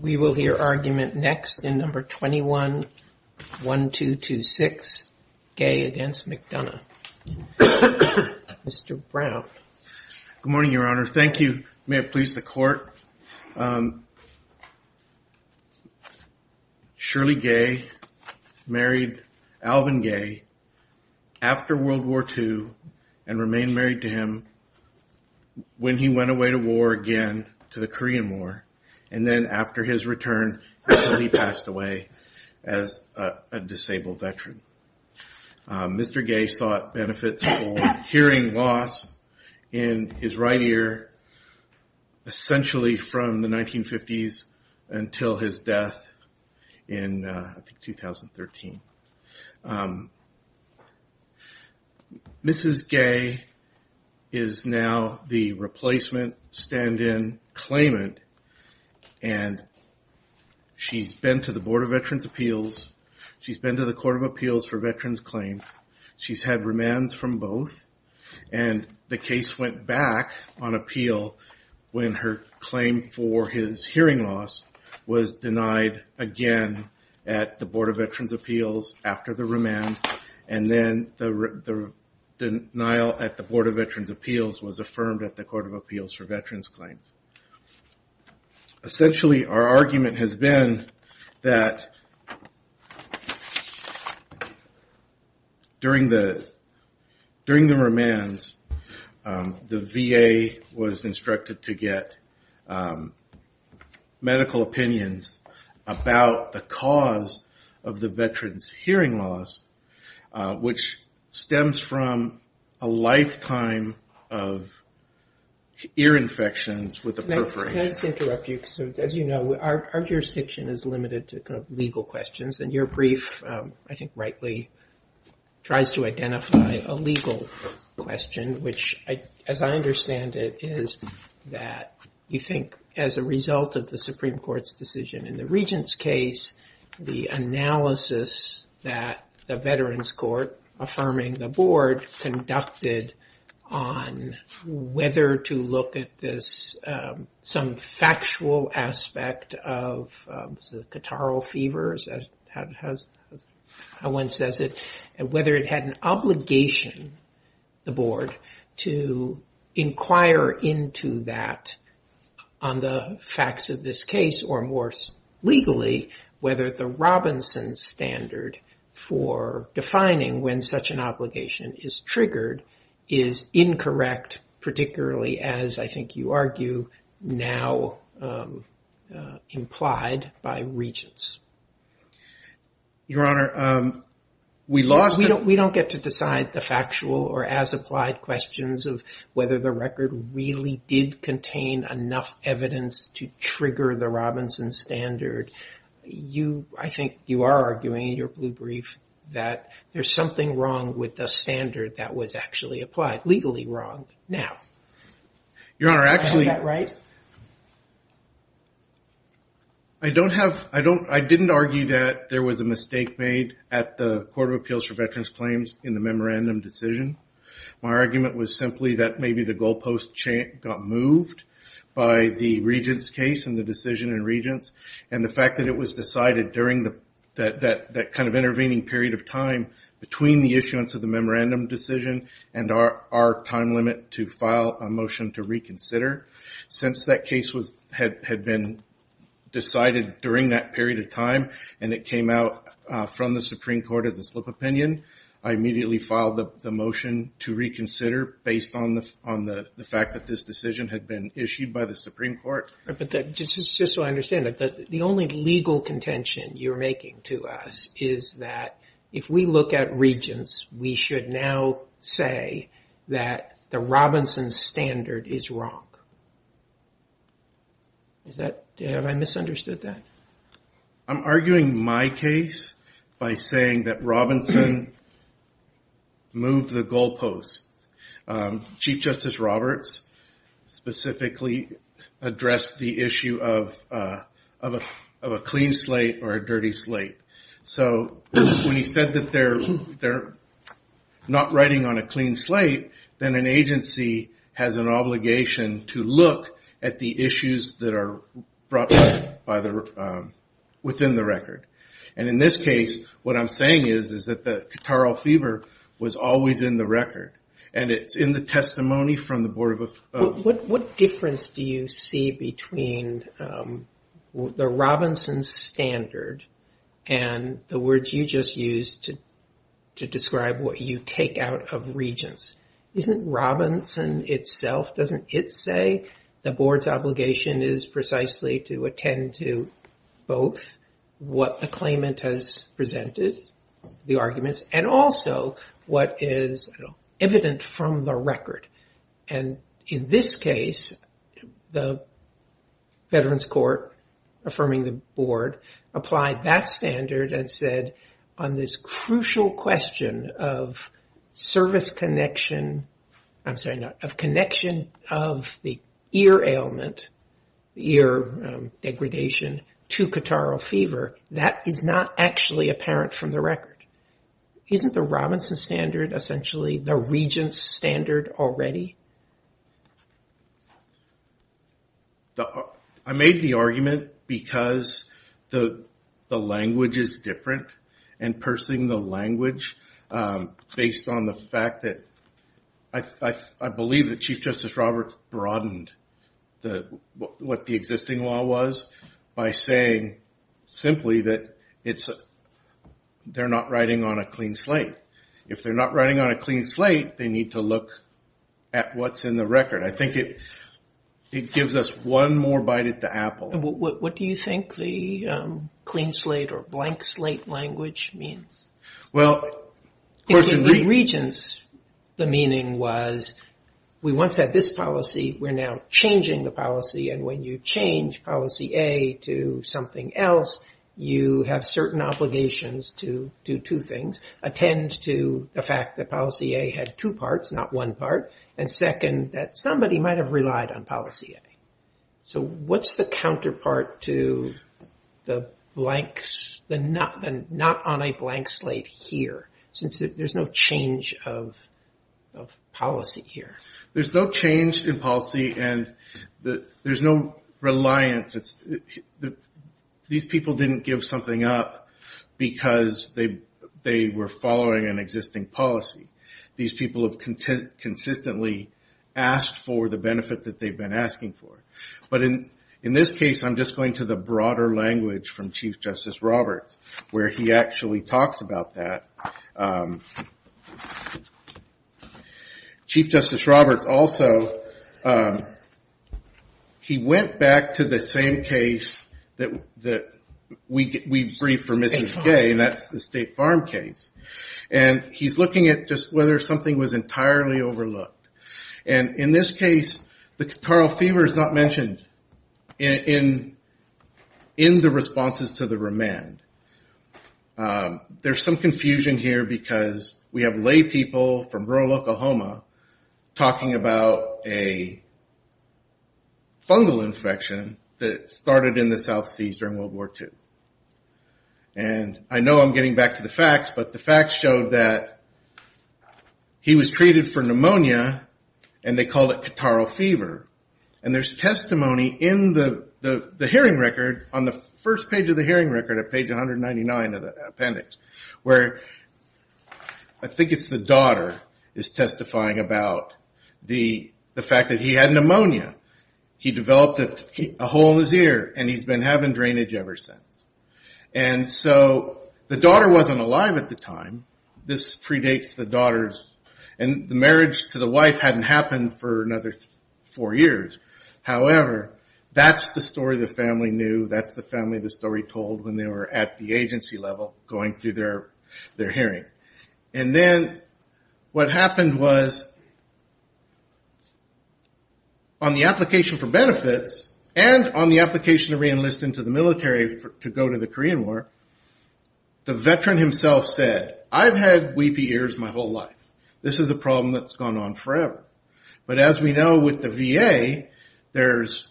We will hear argument next in No. 21-1226, Gay v. McDonough. Mr. Brown. Good morning, Your Honor. Thank you. May it please the Court? Shirley Gay married Alvin Gay after World War II and remained married to him when he went away to war again, to the Korean War, and then after his return he passed away as a disabled veteran. Mr. Gay sought benefits for hearing loss in his right ear essentially from the 1950s until his death in 2013. Mrs. Gay is now the replacement stand-in claimant and she's been to the Board of Veterans' Appeals, she's been to the Court of Appeals for Veterans' Claims, she's had was denied again at the Board of Veterans' Appeals after the remand, and then the denial at the Board of Veterans' Appeals was affirmed at the Court of Appeals for Veterans' Claims. Essentially our argument has been that during the remands the VA was instructed to get medical opinions about the cause of the veteran's hearing loss, which stems from a lifetime of ear infections with the perforation. Can I just interrupt you? As you know, our jurisdiction is limited to legal questions and your brief, I think rightly, tries to identify a legal question, which as I understand it is that you think as a result of the Supreme Court's decision in the regent's case, the analysis that the Veterans' Court affirming the Board conducted on whether to look at this some factual aspect of catarrhal fever, as one says it, and whether it had an obligation the Board to inquire into that on the facts of this case, or more legally, whether the Robinson standard for defining when such an obligation is triggered is incorrect, particularly as I think you argue now implied by regents. Your Honor, we lost... We don't get to decide the factual or as-applied questions of whether the record really did contain enough evidence to trigger the Robinson standard. I think you are arguing in your blue brief that there's something wrong with the standard that was actually applied, legally wrong, now. Your Honor, actually... Am I doing that right? I don't have... I didn't argue that there was a mistake made at the Court of Appeals for Veterans' Claims in the memorandum decision. My argument was simply that maybe the goalpost got moved by the regent's case and the decision in regents, and the fact that it was decided during that kind of intervening period of time between the issuance of the memorandum decision and our time limit to file a motion to reconsider. Since that case had been decided during that period of time and it came out from the Supreme Court as a slip opinion, I immediately filed the motion to reconsider based on the fact that this decision had been issued by the Supreme Court. Just so I understand it, the only legal contention you're making to us is that if we look at the statute, we will say that the Robinson standard is wrong. Have I misunderstood that? I'm arguing my case by saying that Robinson moved the goalposts. Chief Justice Roberts specifically addressed the issue of a clean slate or a dirty slate. When he said that they're not writing on a clean slate, then an agency has an obligation to look at the issues that are brought up within the record. In this case, what I'm saying is that the catarrhal fever was always in the record. It's in the testimony from the Board of... What difference do you see between the Robinson standard and the words you just used to describe what you take out of Regents? Isn't Robinson itself, doesn't it say the Board's obligation is precisely to attend to both what the claimant has presented, the arguments, and also what is evident from the record? In this case, the Veterans Court affirming the board applied that standard and said on this crucial question of service connection, I'm sorry, of connection of the ear ailment, ear degradation to catarrhal fever, that is not actually apparent from the record. Isn't the Robinson standard essentially the Regent's standard already? I made the argument because the language is different and pursing the language based on the fact that I believe that Chief Justice Roberts broadened what the existing law was by saying simply that they're not writing on a clean slate. If they're not writing on a clean slate, they need to look at what's in the record. I think it gives us one more bite at the apple. What do you think the clean slate or blank slate language means? Well, of course in Regents, the meaning was we once had this policy, we're now changing the policy, and when you change policy A to something else, you have certain obligations to do two things, attend to the fact that policy A had two parts, not one part, and second, that somebody might have relied on policy A. What's the counterpart to the not on a blank slate here since there's no change of policy here? There's no change in policy and there's no reliance. These people didn't give something up because they were following an existing policy. These people have consistently asked for the benefit that they've been asking for. But in this case, I'm just going to the broader language from Chief Justice Roberts where he actually talks about that. Chief Justice Roberts also, he went back to the same case that we briefed for Mrs. Gay, and that's the State Farm case. He's looking at just whether something was entirely overlooked. In this case, the catarrhal fever is not mentioned in the responses to the remand. There's some confusion here because we have lay people from rural Oklahoma talking about a fungal infection that started in the South Seas during World War II. I know I'm getting back to the facts, but the facts showed that he was treated for pneumonia and they called it catarrhal fever. There's testimony in the hearing record, on the first page of the hearing record at page 199 of the appendix, where I think it's the daughter is testifying about the fact that he had pneumonia. He developed a hole in his ear and he's been having drainage ever since. The daughter wasn't alive at the time. This predates the daughter's, and the marriage to the wife hadn't happened for another four years. However, that's the story the family knew. That's the family the story told when they were at the agency level going through their hearing. Then what happened was, on the application for benefits and on the application to reenlist into the military to go to the Korean War, the veteran himself said, I've had weepy ears my whole life. This is a problem that's gone on forever. As we know with the VA, there's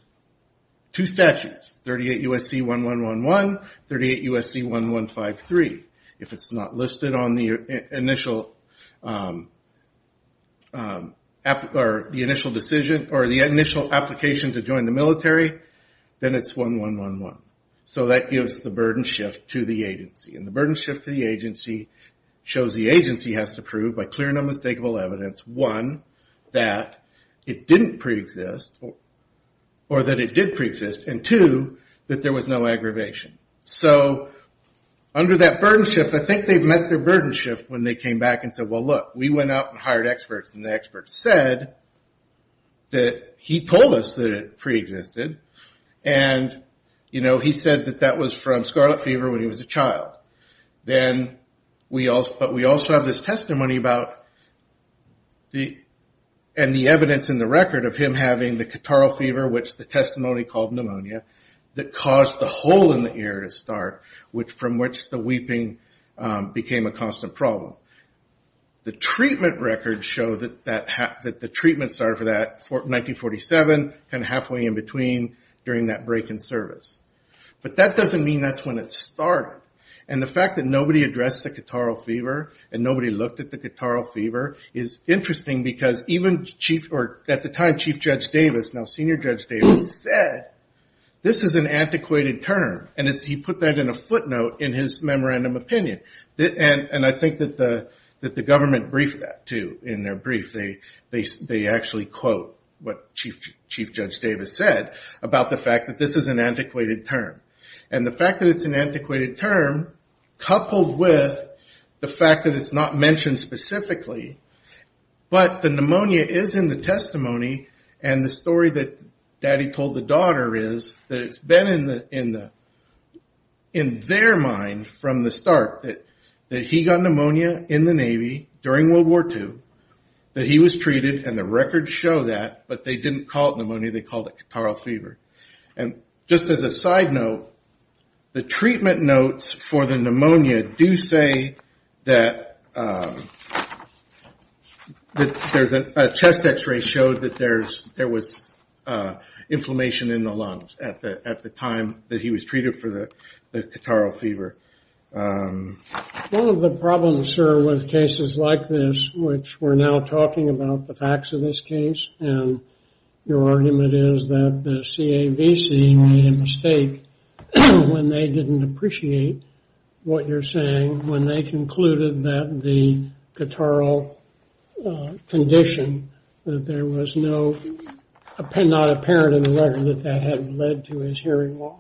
two statutes, 38 U.S.C. 1111, 38 U.S.C. 1153. If it's not listed on the initial decision or the initial application to join the military, then it's 1111. That gives the burden shift to the agency. The burden shift to the agency shows the agency has to prove by clear and unmistakable evidence, one, that it didn't preexist or that it did preexist, and two, that there was no aggravation. Under that burden shift, I think they've met their burden shift when they came back and said, look, we went out and hired experts. The experts said that he told us that it preexisted. He said that that was from scarlet fever when he was a child. We also have this testimony and the evidence in the record of him having the catarrhal fever, which the testimony called pneumonia, that caused the hole in the ear to start, from which the weeping became a constant problem. The treatment records show that the treatment started for that in 1947, halfway in between during that break in service. But that doesn't mean that's when it started. The fact that nobody addressed the catarrhal fever and nobody looked at the catarrhal fever is interesting because even at the time, Chief Judge Davis, now Senior Judge Davis, said this is an antiquated term. He put that in a footnote in his memorandum opinion. And I think that the government briefed that, too. In their brief, they actually quote what Chief Judge Davis said about the fact that this is an antiquated term. And the fact that it's an antiquated term, coupled with the fact that it's not mentioned specifically, but the pneumonia is in the testimony and the story that Daddy told the daughter is that it's been in their mind from the start that he got pneumonia in the Navy during World War II, that he was treated, and the records show that. But they didn't call it pneumonia. They called it catarrhal fever. And just as a side note, the treatment notes for the pneumonia do say that a chest x-ray showed that there was inflammation in the lungs at the time that he was treated for the catarrhal fever. One of the problems, sir, with cases like this, which we're now talking about the facts of this case, and your argument is that the CAVC made a mistake when they didn't appreciate what you're saying, when they concluded that the catarrhal condition, that there was no, not apparent in the record that that had led to his hearing loss.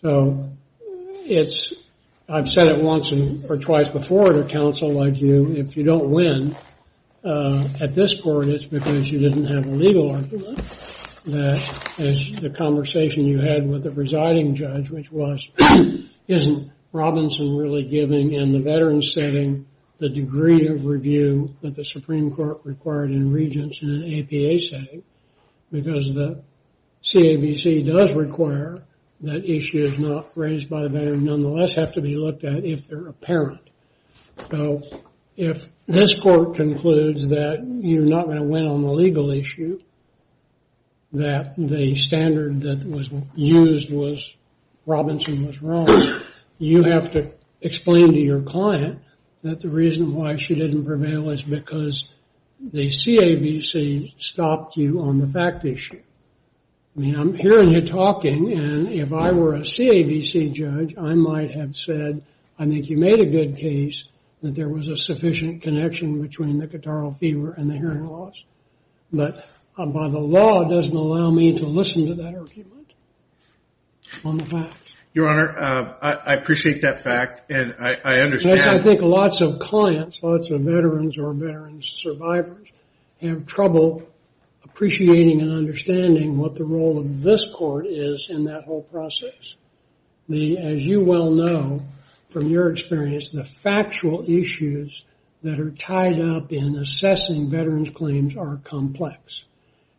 So it's, I've said it once or twice before at a council like you, if you don't win at this court, it's because you didn't have a legal argument. As the conversation you had with the presiding judge, which was, isn't Robinson really giving in the veteran setting the degree of review that the Supreme Court required in regents in an APA setting? Because the CAVC does require that issues not raised by the veteran nonetheless have to be looked at if they're apparent. So if this court concludes that you're not going to win on the legal issue, that the standard that was used was, Robinson was wrong, you have to explain to your client that the reason why she didn't prevail is because the CAVC stopped you on the fact issue. I mean, I'm hearing you talking, and if I were a CAVC judge, I might have said, I think you made a good case that there was a sufficient connection between the catarrhal fever and the hearing loss. But by the law, it doesn't allow me to listen to that argument on the facts. Your Honor, I appreciate that fact, and I understand. I think lots of clients, lots of veterans or veteran survivors have trouble appreciating and understanding what the role of this court is in that whole process. As you well know, from your experience, the factual issues that are tied up in assessing veterans' claims are complex.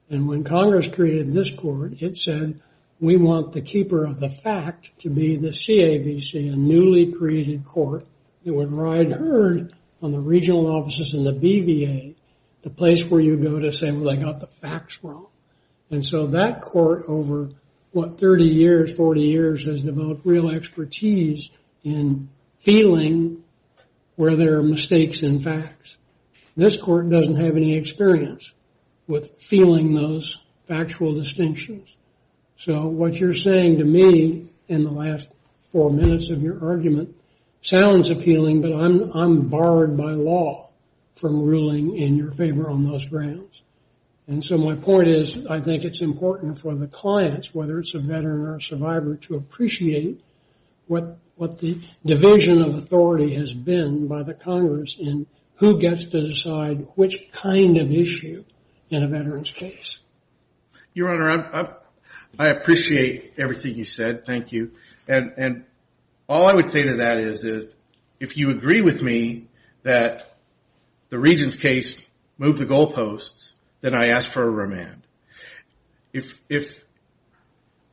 And when Congress created this court, it said, we want the keeper of the fact to be the CAVC, a newly created court that would ride herd on the regional offices and the BVA, the place where you go to say, well, they got the facts wrong. And so that court, over, what, 30 years, 40 years, has developed real expertise in feeling where there are mistakes in facts. This court doesn't have any experience with feeling those factual distinctions. So what you're saying to me in the last four minutes of your argument sounds appealing, but I'm barred by law from ruling in your favor on those grounds. And so my point is, I think it's important for the clients, whether it's a veteran or survivor, to appreciate what the division of authority has been by the Congress in who gets to decide which kind of issue in a veteran's case. Your Honor, I appreciate everything you said. Thank you. And all I would say to that is, if you agree with me that the regent's case moved the goalposts, then I ask for a remand. If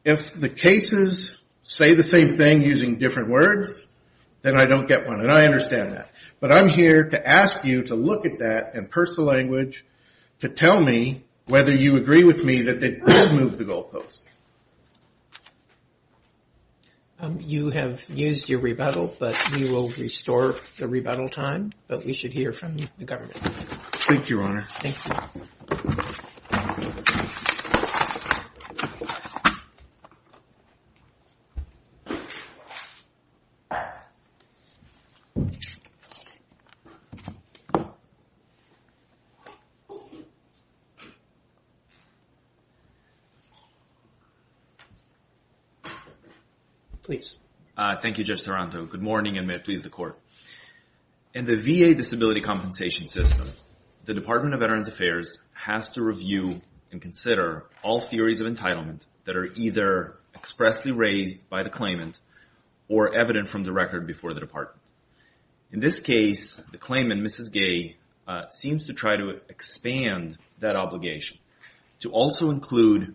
the cases say the same thing using different words, then I don't get one, and I understand that. But I'm here to ask you to look at that and purse the language to tell me whether you agree with me that they did move the goalposts. You have used your rebuttal, but we will restore the rebuttal time, but we should hear from the government. Thank you. Please. Thank you, Judge Taranto. Good morning, and may it please the Court. In the VA disability compensation system, the Department of Veterans Affairs has to review and consider all theories of entitlement that are either expressly raised by the claimant or evident from the record before the department. In this case, the claimant, Mrs. Gay, seems to try to expand that obligation to also include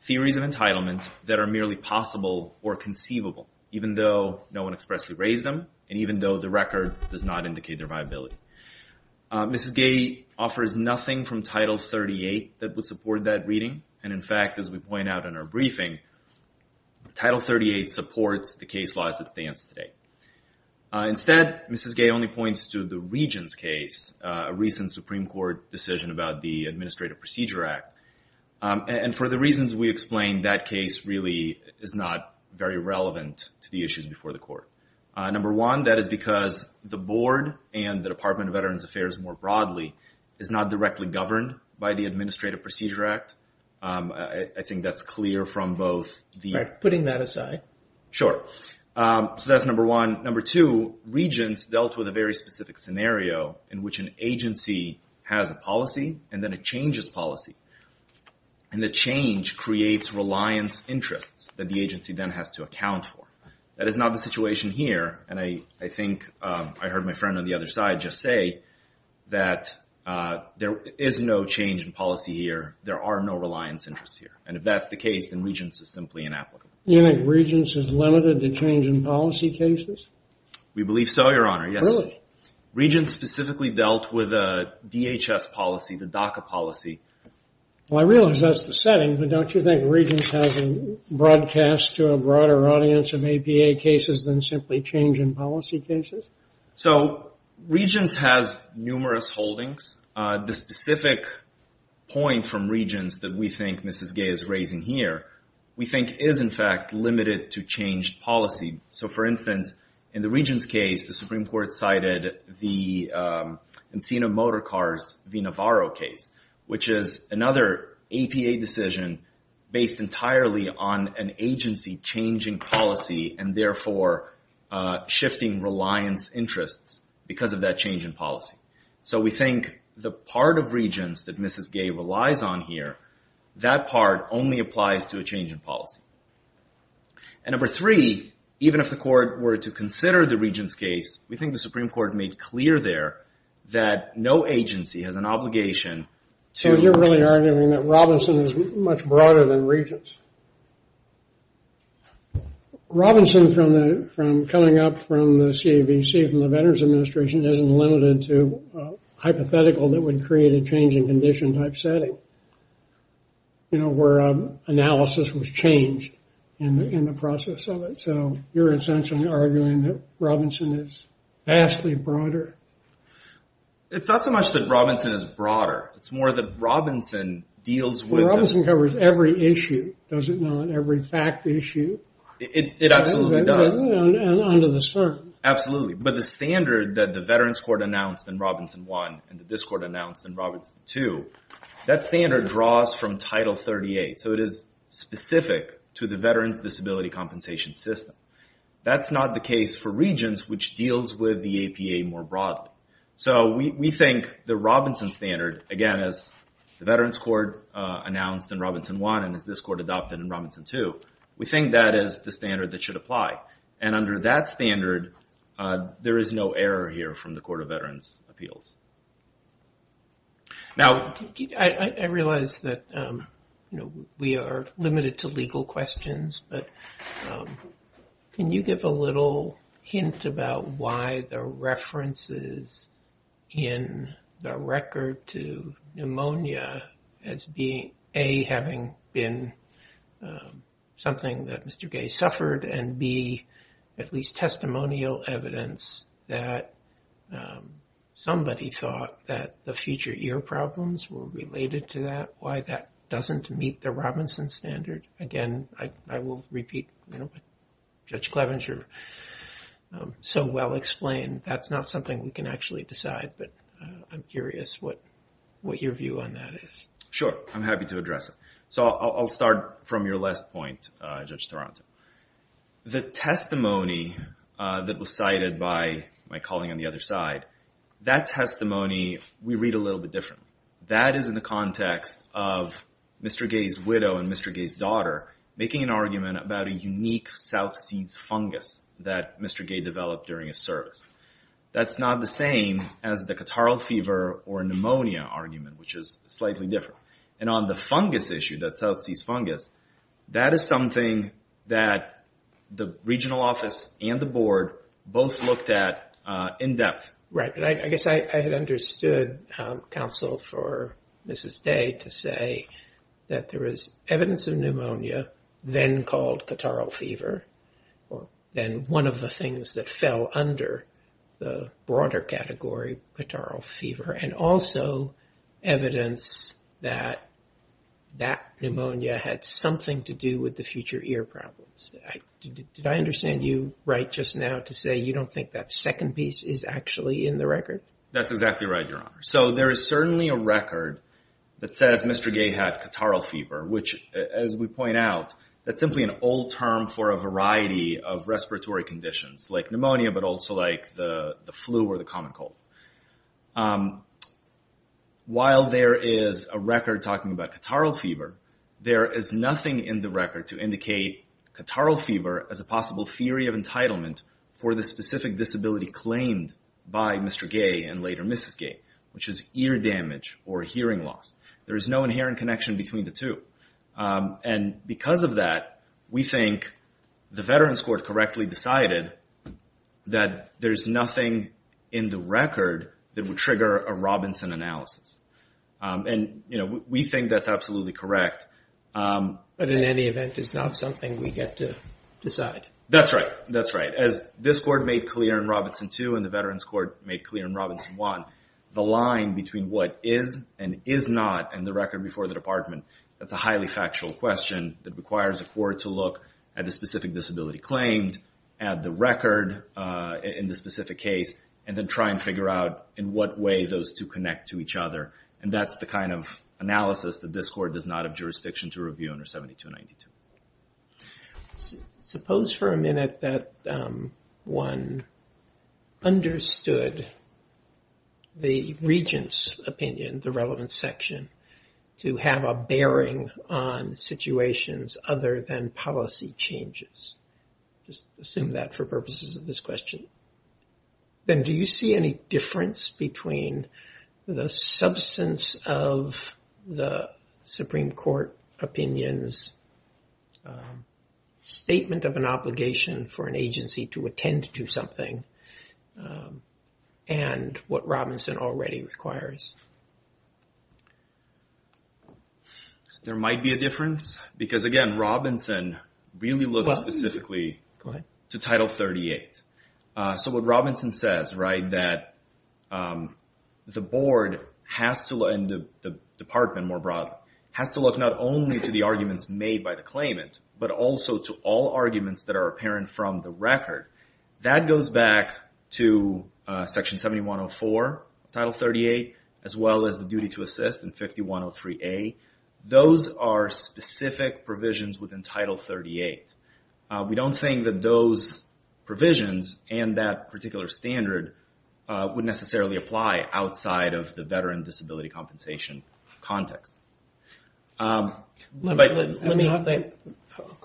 theories of entitlement that are merely possible or conceivable, even though no one expressly raised them, and even though the record does not indicate their viability. Mrs. Gay offers nothing from Title 38 that would support that reading, and in fact, as we point out in our briefing, Title 38 supports the case law as it stands today. Instead, Mrs. Gay only points to the Regents case, a recent Supreme Court decision about the Administrative Procedure Act, and for the reasons we explained, that case really is not very relevant to the issues before the Court. Number one, that is because the Board and the Department of Veterans Affairs more broadly is not directly governed by the Administrative Procedure Act. I think that's clear from both the... Alright, putting that aside. Sure. So that's number one. Number two, Regents dealt with a very specific scenario in which an agency has a policy and then it changes policy, and the change creates reliance interests that the agency then has to account for. That is not the situation here, and I think I heard my friend on the other side just say that there is no change in policy here, there are no reliance interests here, and if that's the case, then Regents is simply inapplicable. You think Regents is limited to change in policy cases? We believe so, Your Honor, yes. Really? Regents specifically dealt with a DHS policy, the DACA policy. Well, I realize that's the setting, but don't you think Regents has a broadcast to a broader audience of APA cases than simply change in policy cases? So, Regents has numerous holdings. The specific point from Regents that we think Mrs. Gay is raising here, we think is in fact limited to change policy. So, for instance, in the Regents case the Supreme Court cited the Encino Motorcars V. Navarro case, which is another APA decision based entirely on an agency changing policy and therefore shifting reliance interests because of that change in policy. So, we think the part of Regents that Mrs. Gay relies on here, that part only applies to a change in policy. And number three, even if the Court were to consider the Regents case, we think the Supreme Court made clear there that no agency has an obligation to... So, you're really arguing that Robinson is much broader than Regents? Robinson from coming up from the CAVC from the Veterans Administration isn't limited to hypothetical that would create a change in condition type setting. You know, where analysis was changed in the process of it. So, you're essentially arguing that Robinson is vastly broader. It's not so much that Robinson is broader. It's more that Robinson deals with... Well, Robinson covers every issue, doesn't it? Every fact issue. It absolutely does. And under the sun. Absolutely. But the standard that the Veterans Court announced in Robinson 1 and that this Court announced in Robinson 2 that standard draws from Title 38. So, it is specific to the Veterans Disability Compensation System. That's not the case for Regents, which deals with the APA more broadly. So, we think the Robinson standard, again, as the Veterans Court announced in Robinson 1 and as this Court adopted in Robinson 2, we think that is the standard that should apply. And under that standard, there is no error here from the Court of Veterans Appeals. Now... I realize that we are limited to legal questions but can you give a little hint about why the references in the record to pneumonia as being A. having been something that Mr. Gay suffered and B. at least testimonial evidence that somebody thought that the future ear problems were related to that. Why that doesn't meet the Robinson standard. Again, I will repeat what Judge Clevenger so well explained. That's not something we can actually decide but I'm curious what your view on that is. Sure. I'm happy to address it. So, I'll start from your last point, Judge Toronto. The testimony that was cited by my colleague on the other side, that testimony we read a little bit different. That is in the context of Mr. Gay's widow and Mr. Gay's daughter making an argument about a unique South Seas fungus that Mr. Gay developed during his service. That's not the same as the catarrhal fever or pneumonia argument, which is slightly different. And on the fungus issue, that South Seas fungus, that is something that the regional office and the board both looked at in depth. Right. I guess I had understood counsel for Mrs. Day to say that there is evidence of pneumonia then called catarrhal fever, then one of the things that fell under the broader category catarrhal fever and also evidence that that pneumonia had something to do with the future ear problems. Did I understand you right just now to say you don't think that second piece is actually in the record? That's exactly right, Your Honor. So there is certainly a record that says Mr. Gay had catarrhal fever, which as we point out, that's simply an old term for a variety of respiratory conditions like pneumonia, but also like the flu or the common cold. While there is a record talking about catarrhal fever, there is nothing in the record to indicate catarrhal fever as a possible theory of entitlement for the specific disability claimed by Mr. Gay and later Mrs. Gay, which is ear damage or hearing loss. There is no inherent connection between the two. And because of that, we think the Veterans Court correctly decided that there is nothing in the record that would trigger a Robinson analysis. And we think that's absolutely correct. But in any event, it's not something we get to decide. That's right. That's right. As this Court made clear in Robinson 2 and the Veterans Court made clear in Robinson 1, the line between what is and is not in the record before the Department, that's a highly factual question that requires a court to look at the specific disability claimed, add the record in the specific case, and then try and figure out in what way those two connect to each other. And that's the kind of analysis that this Court does not have jurisdiction to review under 7292. Suppose for a minute that one understood the Regent's opinion, the relevant section, to have a bearing on situations other than policy changes. Just assume that for purposes of this question. Then do you see any difference between the substance of the Supreme Court opinion's statement of an obligation for an agency to attend to something and what Robinson already requires? There might be a difference. Because again, Robinson really looks specifically to Title 38. So what Robinson says that the Board has to look and the Department more broadly, has to look not only to the arguments made by the claimant, but also to all arguments that are apparent from the record. That goes back to Section 7104 of Title 38, as well as the duty to assist in 5103A. Those are specific provisions within Title 38. We don't think that those provisions and that particular standard would necessarily apply outside of the veteran disability compensation context. Let me... That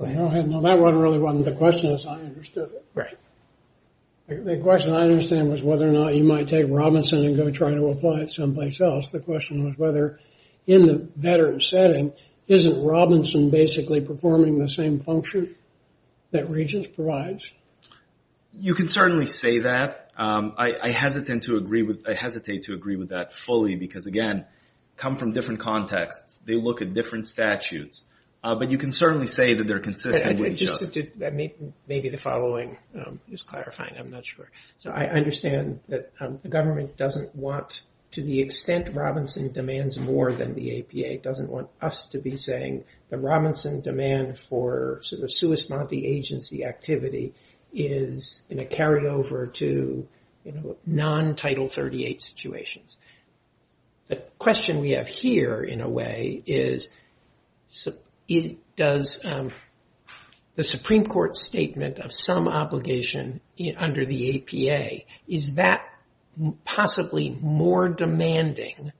really wasn't the question as I understood it. The question I understand was whether or not you might take Robinson and go try to apply it someplace else. The question was whether in the veteran setting isn't Robinson basically performing the same function that Regent's provides? You can certainly say that. I hesitate to agree with that fully because again, come from different contexts. They look at different statutes. But you can certainly say that they're consistent with each other. Maybe the following is clarifying. I'm not sure. So I understand that the government doesn't want, to the extent Robinson demands more than the APA, doesn't want us to be saying that Robinson demand for sort of Swiss Monte agency activity is in a carryover to non-Title 38 situations. The question we have here in a way is does the Supreme Court statement of some obligation under the APA, is that possibly more demanding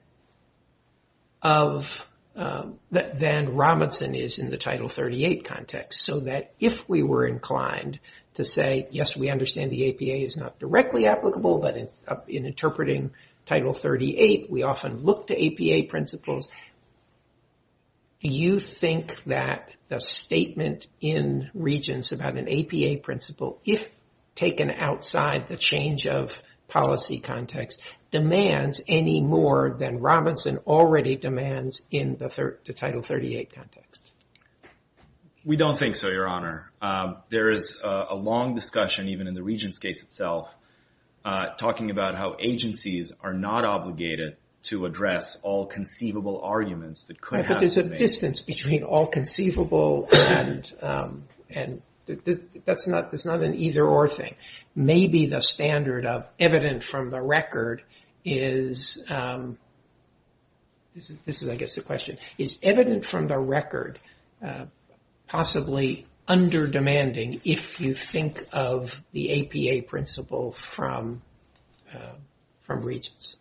of than Robinson is in the Title 38 context so that if we were inclined to say, yes, we understand the APA is not directly applicable, but in interpreting Title 38, we often look to APA principles. Do you think that the statement in Regent's about an APA principle, if taken outside the change of policy context, demands any more than Robinson already demands in the Title 38 context? We don't think so, Your Honor. There is a long discussion even in the Regent's case itself, talking about how agencies are not obligated to address all conceivable arguments that could have... But there's a distance between all conceivable and that's not an either or thing. Maybe the standard of evident from the record is this is I guess the question, is evident from the record possibly under demanding if you think of the APA principle from Regent's?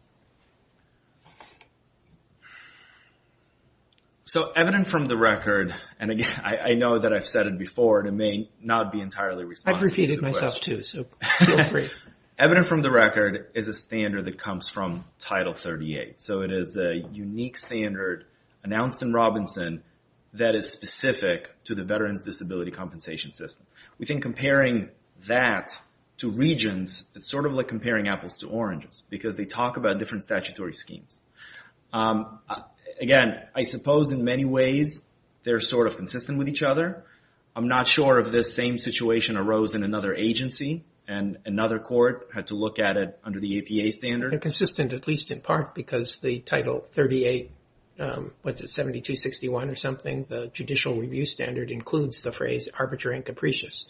So evident from the record and again, I know that I've said it before and it may not be entirely responsible. I've repeated myself too, so feel free. Evident from the record is a standard that comes from Title 38. So it is a unique standard announced in Robinson that is specific to the Veterans Disability Compensation System. We think comparing that to Regent's, it's sort of like comparing apples to oranges because they talk about different statutory schemes. Again, I suppose in many ways, they're sort of consistent with each other. I'm not sure if this same situation arose in another agency and another court had to look at it under the APA standard. They're consistent at least in part because the Title 38, what's it, 7261 or something, includes the phrase arbitrary and capricious.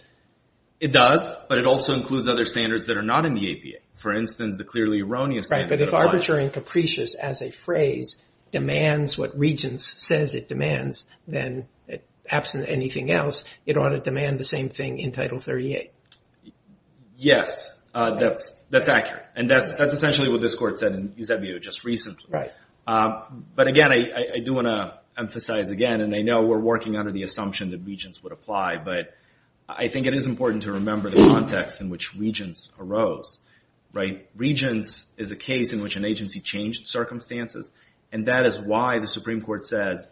It does, but it also includes other standards that are not in the APA. For instance, the clearly erroneous standard. Right, but if arbitrary and capricious as a phrase demands what Regent's says it demands, then absent anything else, it ought to demand the same thing in Title 38. Yes, that's accurate and that's essentially what this court said in Eusebio just recently. Right. But again, I do want to make the assumption that Regent's would apply, but I think it is important to remember the context in which Regent's arose. Right, Regent's is a case in which an agency changed circumstances and that is why the Supreme Court says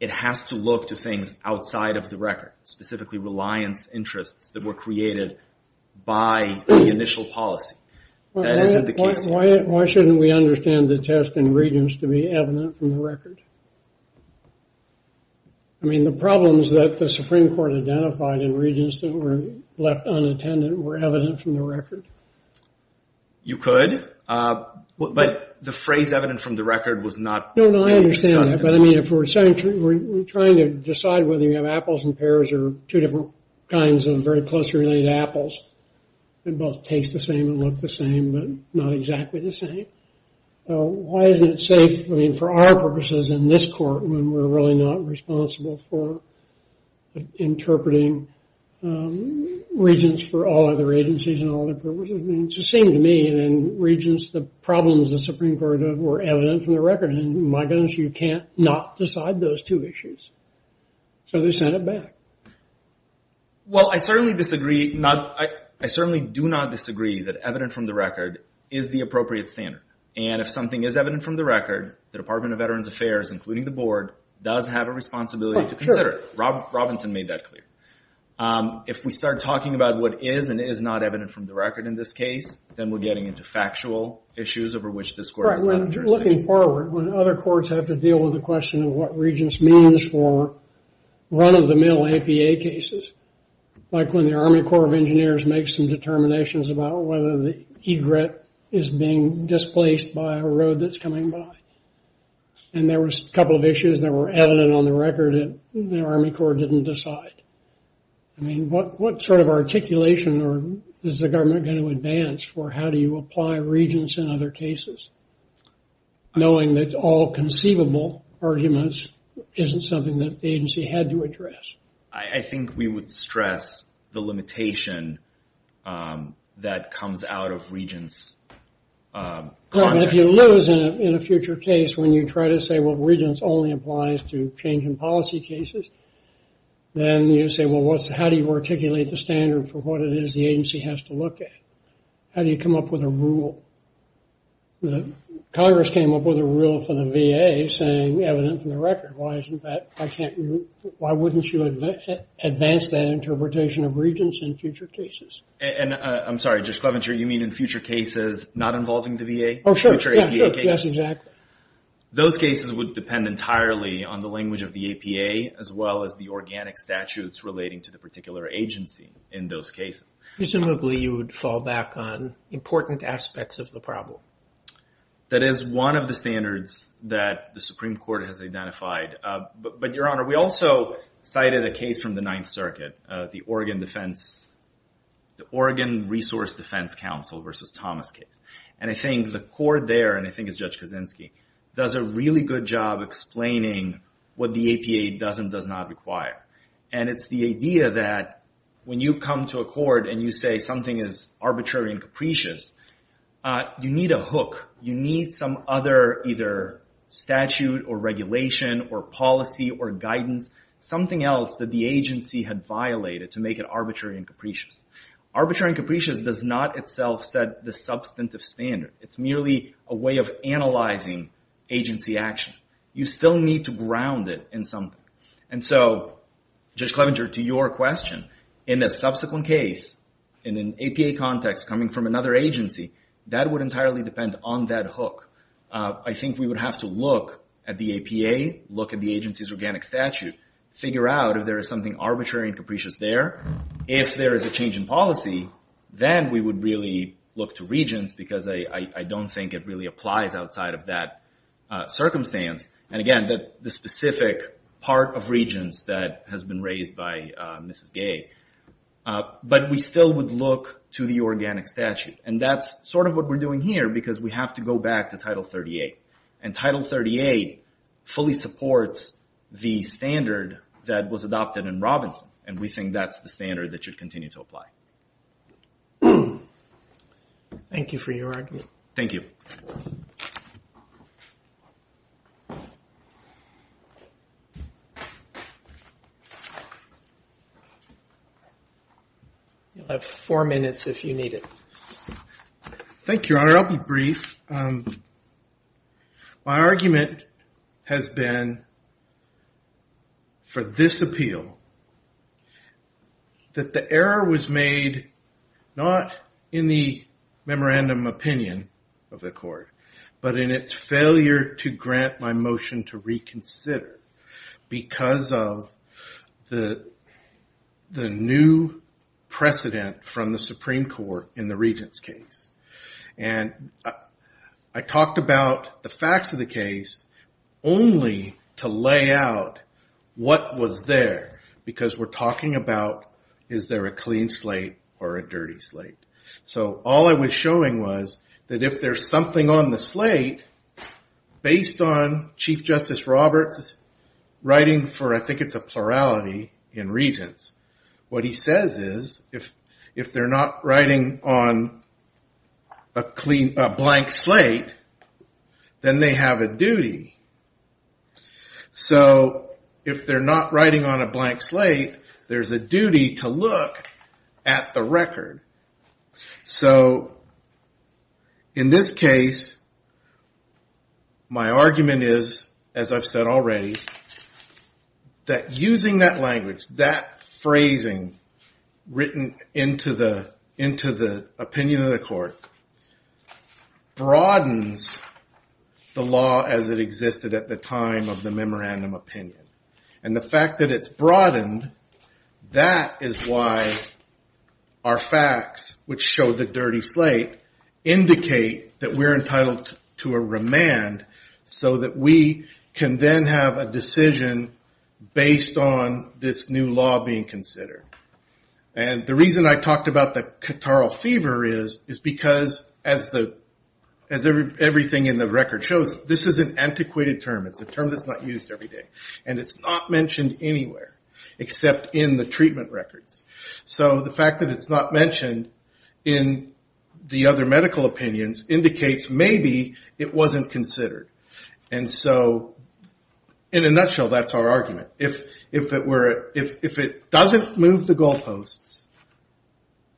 it has to look to things outside of the record. Specifically, reliance interests that were created by the initial policy. That isn't the case here. Why shouldn't we understand the test in Regent's to be evident from the record? I mean, the problems that the Supreme Court identified in Regent's that were left unattended were evident from the record. You could, but the phrase evident from the record was not. No, no, I understand that, but I mean if we're trying to decide whether you have apples and pears or two different kinds of very closely related apples that both taste the same and look the same, but not exactly the same. Why isn't it safe for our purposes in this court when we're really not responsible for interpreting Regent's for all other agencies and all other purposes? I mean, it's the same to me and Regent's, the problems the Supreme Court had were evident from the record and my goodness, you can't not decide those two issues. So, they sent it back. Well, I certainly disagree. I certainly do not disagree that evident from the record is the appropriate standard and if something is evident from the record, the Department of Veterans Affairs, including the board, does have a responsibility to consider it. Robinson made that clear. If we start talking about what is and is not evident from the record in this case, then we're getting into factual issues over which this court is not interested. Right, when you're looking forward, when other courts have to deal with the question of what Regent's means for run-of-the-mill APA cases, like when the Army Corps of Engineers makes some determinations about whether the egret is being displaced by a road that's coming by and there was a couple of issues that were evident on the record and the Army Corps didn't decide. I mean, what sort of articulation is the government going to advance for how do you apply Regent's in other cases, knowing that all conceivable arguments isn't something that the agency had to address? I think we would stress the limitation that comes out of Regent's context. If you lose in a future case when you try to say, well, Regent's only applies to change in policy cases, then you say, well, how do you articulate the standard for what it is the agency has to look at? How do you come up with a rule? Congress came up with a rule for the VA saying evident from the record. Why wouldn't you advance that in future cases? Those cases would depend entirely on the language of the APA as well as the organic statutes relating to the particular agency in those cases. Presumably, you would fall back on important aspects of the problem. That is one of the standards that the Supreme Court has identified. But, Your Honor, we also cited a case from the Ninth Circuit, the Oregon Resource Defense Council versus Thomas case. I think the court there, and I think it's Judge Kaczynski, does a really good job explaining what the APA does and does not require. It's the idea that when you come to a court and you say something is arbitrary and capricious, you need a hook. You need some other either statute or regulation or policy or guidance, something else that the agency had violated to make it arbitrary and capricious. Arbitrary and capricious does not itself set the substantive standard. It's merely a way of analyzing agency action. You still need to ground it in something. Judge Clevenger, to your question, in a subsequent case in an APA context coming from another agency, that would entirely depend on that hook. I think we would have to look at the APA, look at the agency's organic statute, figure out if there is something arbitrary and capricious there. If there is a change in policy, then we would really look to regents because I don't think it really applies outside of that circumstance. Again, the specific part of regents that has been raised by Mrs. Gay. But we still would look to the organic statute. That's sort of what we're doing here because we have to go back to Title 38. And Title 38 fully supports the standard that was adopted in Robinson. And we think that's the standard that should continue to apply. Thank you for your argument. Thank you. You'll have four minutes if you need it. Thank you, Your Honor. I'll be brief. My argument has been for this appeal that the error was made not in the memorandum opinion of the court, but in its failure to grant my motion to reconsider because of the new precedent from the Supreme Court in the regents case. And I talked about the facts of the case only to lay out what was there because we're talking about is there a clean slate or a dirty slate. So all I was showing was that if there's something on the slate based on Chief Justice Roberts' writing for I think it's a plurality in regents, what he says is if they're not writing on a blank slate then they have a duty. So if they're not writing on a blank slate, there's a duty to look at the record. So in this case my argument is, as I've said already, that using that language, that phrasing written into the opinion of the court broadens the law as it existed at the time of the memorandum opinion. And the fact that it's broadened, that is why our facts, which show the dirty slate, indicate that we're entitled to a remand so that we can then have a decision based on this new law being considered. And the reason I talked about the catarrhal fever is because as everything in the record shows, this is an antiquated term. It's a term that's not used every day. And it's not mentioned anywhere except in the treatment records. So the fact that it's not mentioned in the other medical opinions indicates maybe it wasn't considered. And so in a nutshell that's our argument. If it doesn't move the goal posts,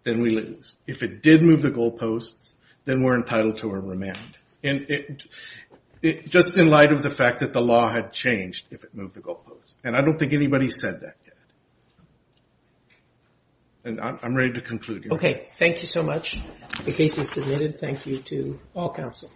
then we lose. If it did move the goal posts then we're entitled to a remand. Just in light of the fact that the law had changed if it moved the goal posts. And I don't think anybody said that yet. I'm ready to conclude. Okay. Thank you so much. The case is submitted. Thank you to all counsel.